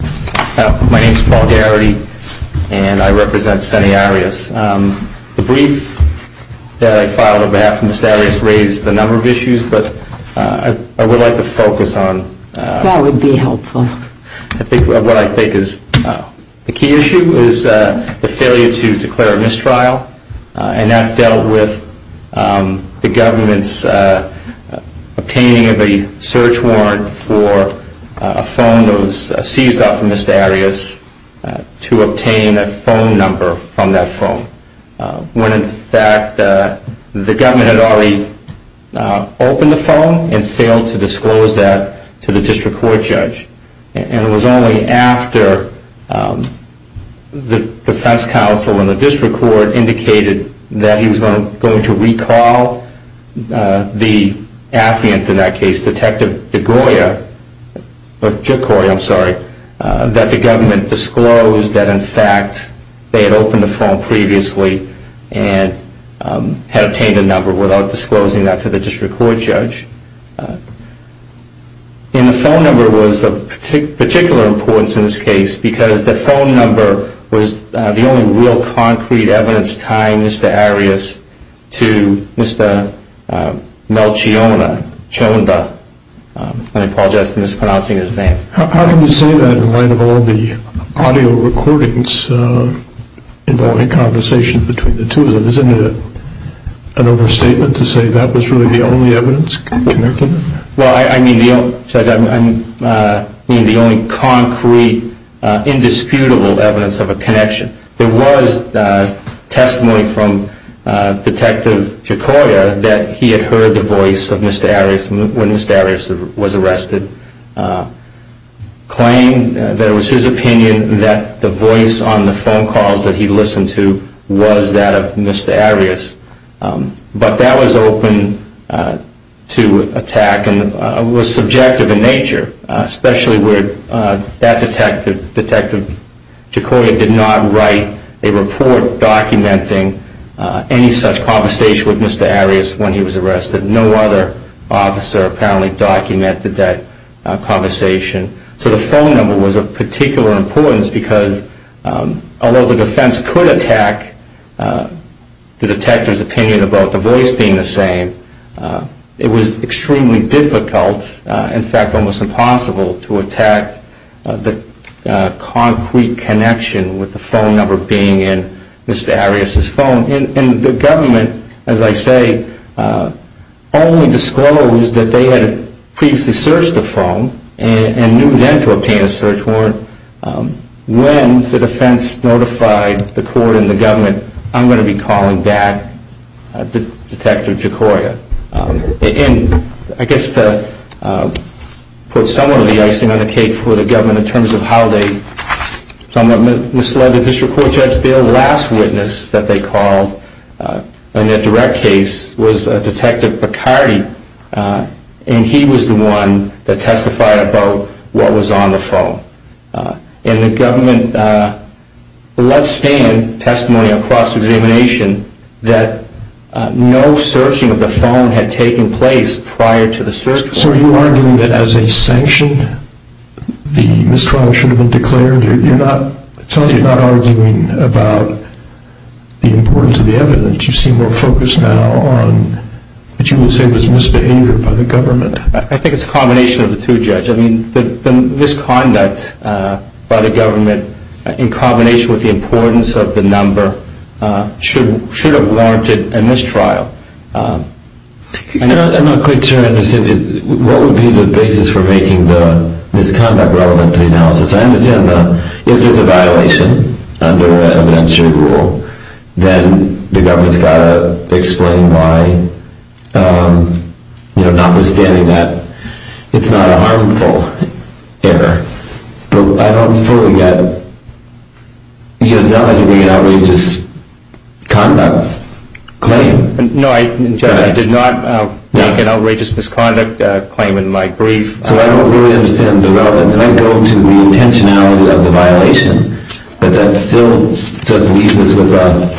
My name is Paul Garrity and I represent Senate Arias. The brief that I filed on behalf of Mr. Arias raised a number of issues, but I would like to focus on what I think is the key issue is the failure to declare a mistrial and that dealt with the government's obtaining of a search warrant for a phone that was seized off of Mr. Arias to obtain a phone number from that phone, when in fact the government had already opened the phone and failed to disclose that to the district court judge. And it was only after the defense counsel in the district court indicated that he was going to recall the affiant in that case, Detective DeGioia, I'm sorry, that the government disclosed that in fact they had opened the phone previously and had obtained a number without disclosing that to the district court judge. And the phone number was of particular importance in this case because the phone was the only evidence linking Mr. Arias to Mr. Melchiona. How can you say that in light of all the audio recordings involving a conversation between the two of them? Isn't it an overstatement to say that was really the only evidence? Well, I mean the only concrete, indisputable evidence of a connection. There was testimony from Detective DeGioia that he had heard the voice of Mr. Arias when Mr. Arias was arrested, claimed that it was his opinion that the voice on the phone calls that he listened to was that of Mr. Arias. But that was open to attack and was subjective in nature, especially where that Detective DeGioia did not write a report documenting any such conversation with Mr. Arias when he was arrested. No other officer apparently documented that conversation. So the phone number was of particular importance because although the defense could attack the detective's opinion about the voice being the same, it was extremely difficult, in fact almost impossible, to attack the concrete connection with the phone number being in Mr. Arias' phone. And the government, as I say, only disclosed that they had previously searched the phone and knew then to obtain a search warrant when the defense notified the court and the government, I'm going to be calling back Detective DeGioia. And I guess to put some of the icing on the cake for the government in terms of how they somewhat misled the District Court Judge, the last witness that they called in a direct case was Detective Picardy and he was the one that testified about what was on the phone. And the government let stand testimony across examination that no searching of the phone had taken place prior to the search warrant. So are you arguing that as a sanction the mistrial should have been declared? I'm telling you, you're not arguing about the importance of the evidence. You seem more focused now on what you would say was misbehavior by the government. I think it's a combination of the two, Judge. I mean, the misconduct by the government in combination with the importance of the number should have warranted a mistrial. I'm not quite sure I understand. What would be the basis for making the misconduct relevant to the analysis? I understand that if there's a violation under evidentiary rule, then the government's got to explain why, you know, notwithstanding that it's not a harmful error. But I don't fully get, you know, it's not like you bring an outrageous conduct claim. No, Judge, I did not make an outrageous misconduct claim in my brief. So I don't really understand the relevance. And I go to the intentionality of the violation, but that still just leaves us with a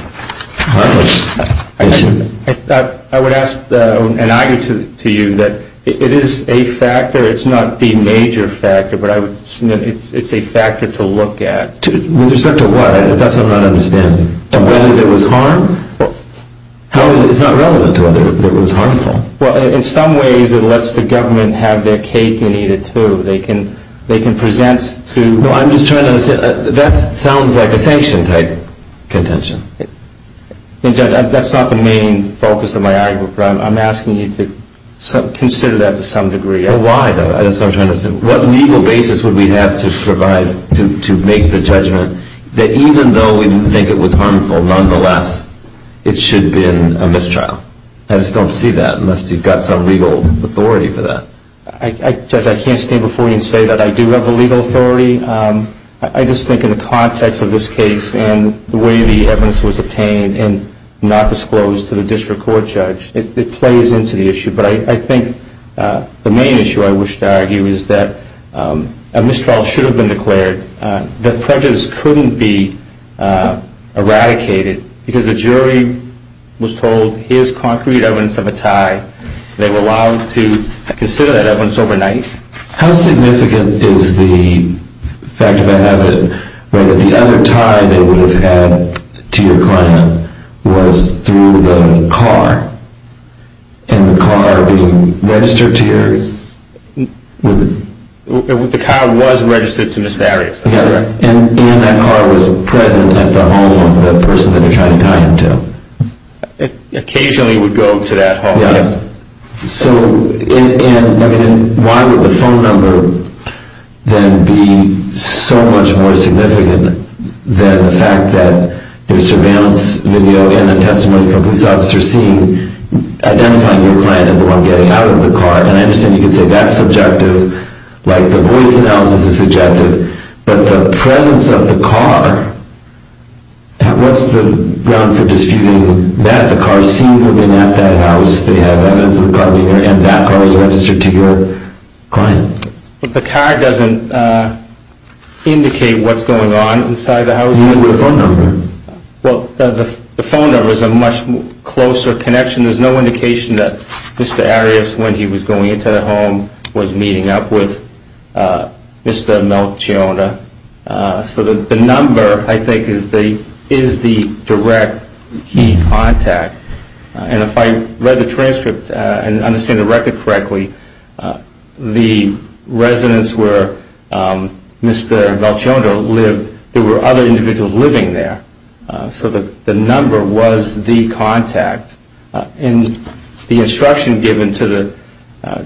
harmless issue. I would ask an argument to you that it is a factor. It's not the major factor, but it's a factor to look at. With respect to what? That's what I'm not understanding. Whether there was harm? It's not relevant to whether there was harmful. Well, in some ways it lets the government have their cake and eat it, too. They can present to... No, I'm just trying to understand. That sounds like a sanction-type contention. And, Judge, that's not the main focus of my argument, but I'm asking you to consider that to some degree. Well, why, though? That's what I'm trying to understand. What legal basis would we have to provide to make the judgment that even though we think it was harmful, nonetheless, it should have been a mistrial? I just don't see that unless you've got some legal authority for that. Judge, I can't stand before you and say that I do have the legal authority. I just think in the context of this case and the way the evidence was obtained and not disclosed to the district court judge, it plays into the issue. But I think the main issue I wish to argue is that a mistrial should have been declared. The prejudice couldn't be eradicated because the jury was told here's concrete evidence of a tie. They were allowed to consider that evidence overnight. How significant is the fact that the other tie they would have had to your client was through the car? And the car being registered to your... The car was registered to Ms. Darius, that's correct. And that car was present at the home of the person that they're trying to tie him to. Occasionally it would go to that home, yes. So why would the phone number then be so much more significant than the fact that there's surveillance video and a testimony from a police officer identifying your client as the one getting out of the car? And I understand you can say that's subjective, like the voice analysis is subjective. But the presence of the car, what's the ground for disputing that the car is seen moving at that house, they have evidence of the car being there, and that car was registered to your client? The car doesn't indicate what's going on inside the house. Neither does the phone number. Well, the phone number is a much closer connection. There's no indication that Mr. Arias, when he was going into the home, was meeting up with Mr. Melchiona. So the number, I think, is the direct key contact. And if I read the transcript and understand the record correctly, the residence where Mr. Melchiona lived, there were other individuals living there. So the number was the contact. And the instruction given to the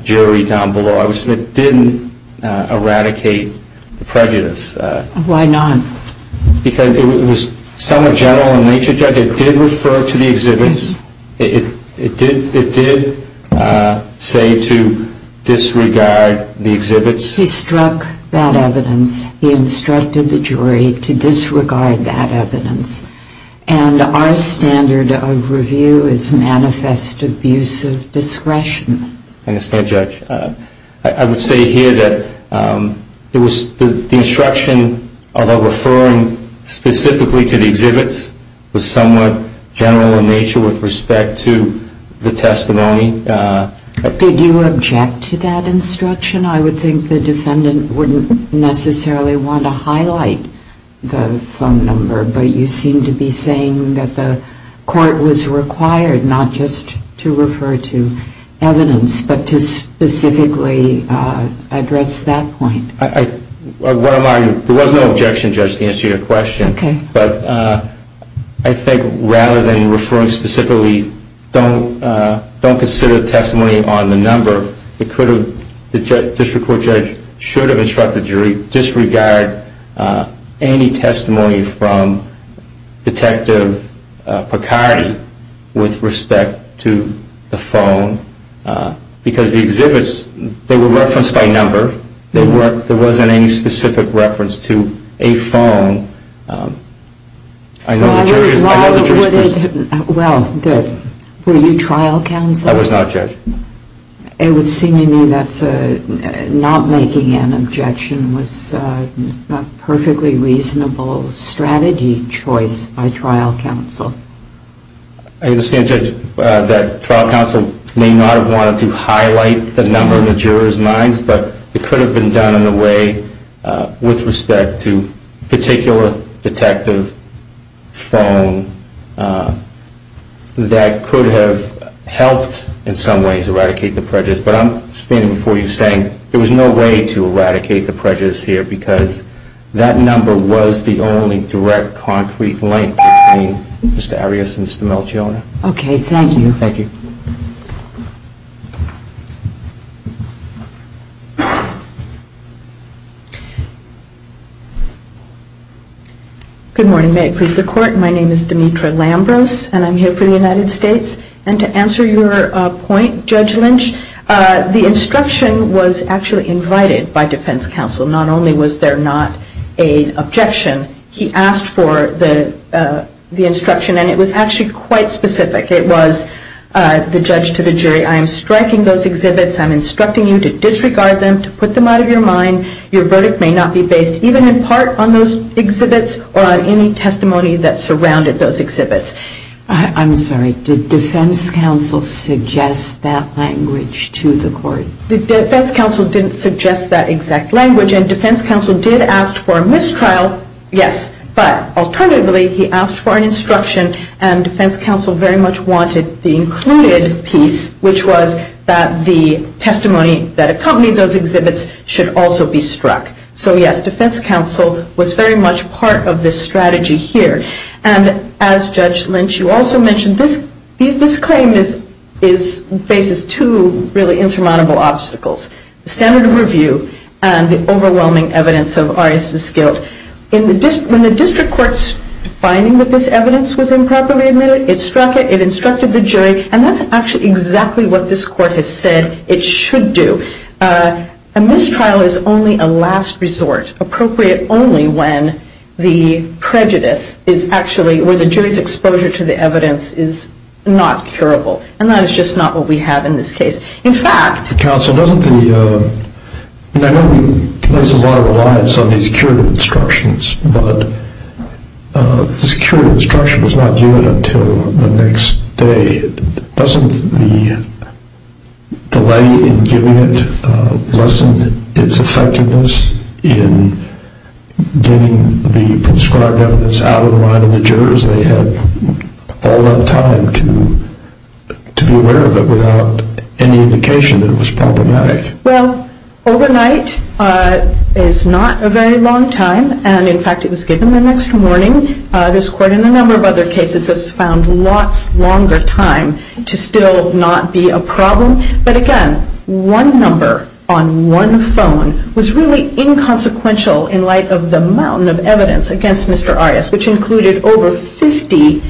jury down below, I would submit, didn't eradicate prejudice. Why not? Because it was somewhat general in nature. It did refer to the exhibits. It did say to disregard the exhibits. He struck that evidence. He instructed the jury to disregard that evidence. And our standard of review is manifest abuse of discretion. I understand, Judge. I would say here that the instruction, although referring specifically to the exhibits, was somewhat general in nature with respect to the testimony. Did you object to that instruction? I would think the defendant wouldn't necessarily want to highlight the phone number. But you seem to be saying that the court was required not just to refer to evidence, but to specifically address that point. There was no objection, Judge, to answer your question. Okay. But I think rather than referring specifically, don't consider testimony on the number. It could have, the district court judge should have instructed the jury to disregard any testimony from Detective Picardi with respect to the phone. Because the exhibits, they were referenced by number. There wasn't any specific reference to a phone. Well, were you trial counsel? I was not, Judge. It would seem to me that not making an objection was a perfectly reasonable strategy choice by trial counsel. I understand, Judge, that trial counsel may not have wanted to highlight the number in the jurors' minds, but it could have been done in a way with respect to a particular detective phone that could have helped in some ways eradicate the prejudice. But I'm standing before you saying there was no way to eradicate the prejudice here because that number was the only direct concrete link between Mr. Arias and Mr. Melchiona. Okay. Thank you. Good morning. May it please the Court? My name is Demetra Lambros, and I'm here for the United States. And to answer your point, Judge Lynch, the instruction was actually invited by defense counsel. Not only was there not an objection, he asked for the instruction, and it was actually quite specific. It was the judge to the jury, I am striking those exhibits. I'm instructing you to disregard them, to put them out of your mind. Your verdict may not be based even in part on those exhibits or on any testimony that surrounded those exhibits. I'm sorry. Did defense counsel suggest that language to the Court? The defense counsel didn't suggest that exact language. And defense counsel did ask for a mistrial, yes. But alternatively, he asked for an instruction, and defense counsel very much wanted the included piece, which was that the testimony that accompanied those exhibits should also be struck. So, yes, defense counsel was very much part of this strategy here. And as Judge Lynch, you also mentioned this claim faces two really insurmountable obstacles, the standard of review and the overwhelming evidence of Arias' guilt. When the district court's finding that this evidence was improperly admitted, it struck it. And that's actually exactly what this court has said it should do. A mistrial is only a last resort, appropriate only when the prejudice is actually, where the jury's exposure to the evidence is not curable. And that is just not what we have in this case. In fact- Counsel, doesn't the- I know we place a lot of reliance on these curative instructions, but the curative instruction was not given until the next day. Doesn't the delay in giving it lessen its effectiveness in getting the prescribed evidence out of the mind of the jurors? They had all that time to be aware of it without any indication that it was problematic. Well, overnight is not a very long time. And, in fact, it was given the next morning. This court, in a number of other cases, has found lots longer time to still not be a problem. But, again, one number on one phone was really inconsequential in light of the mountain of evidence against Mr. Arias, which included over 50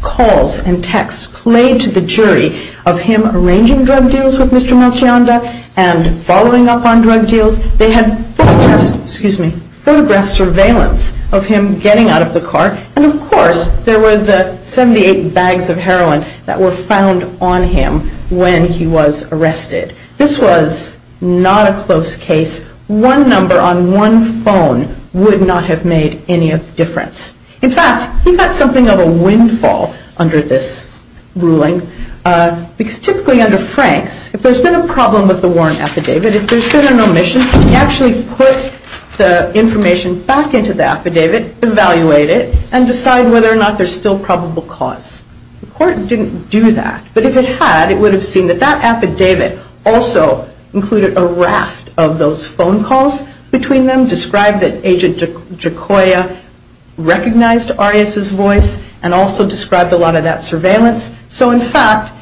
calls and texts played to the jury of him arranging drug deals with Mr. Melchionda and following up on drug deals. They had photographs- Excuse me. Photograph surveillance of him getting out of the car. And, of course, there were the 78 bags of heroin that were found on him when he was arrested. This was not a close case. One number on one phone would not have made any difference. In fact, he got something of a windfall under this ruling because, typically, under Franks, if there's been a problem with the Warren affidavit, if there's been an omission, you actually put the information back into the affidavit, evaluate it, and decide whether or not there's still probable cause. The court didn't do that. But if it had, it would have seen that that affidavit also included a raft of those phone calls between them, described that Agent Jacoya recognized Arias' voice, and also described a lot of that surveillance. So, in fact,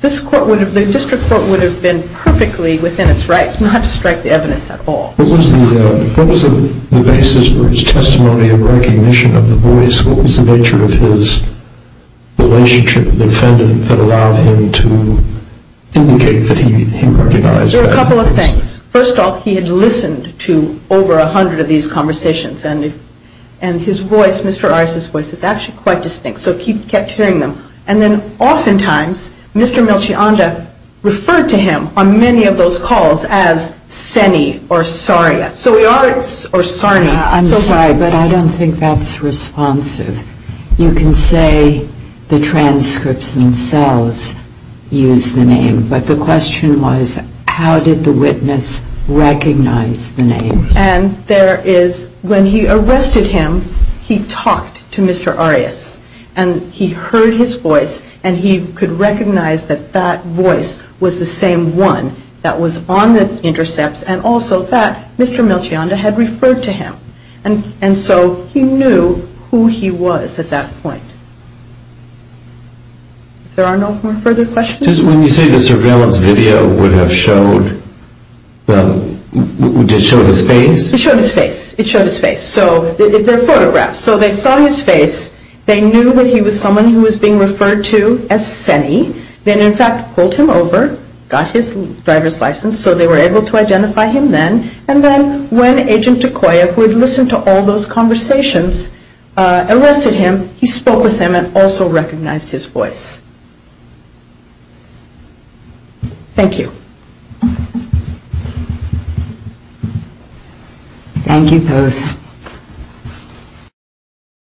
the district court would have been perfectly within its right not to strike the evidence at all. What was the basis for his testimony of recognition of the voice? What was the nature of his relationship with the defendant that allowed him to indicate that he recognized that voice? There were a couple of things. First of all, he had listened to over 100 of these conversations, and his voice, Mr. Arias' voice, is actually quite distinct. So he kept hearing them. And then, oftentimes, Mr. Melchionda referred to him on many of those calls as Senny or Sarnia. So we are at Sarnia. I'm sorry, but I don't think that's responsive. You can say the transcripts themselves use the name, but the question was, how did the witness recognize the name? And there is, when he arrested him, he talked to Mr. Arias, and he heard his voice, and he could recognize that that voice was the same one that was on the intercepts, and also that Mr. Melchionda had referred to him. And so he knew who he was at that point. If there are no further questions? When you say that Sir Graham's video would have showed, did it show his face? It showed his face. It showed his face. So they're photographs. So they saw his face. They knew that he was someone who was being referred to as Senny. Then, in fact, pulled him over, got his driver's license, so they were able to identify him then. And then when Agent Dekoya, who had listened to all those conversations, arrested him, he spoke with him and also recognized his voice. Thank you. Thank you both.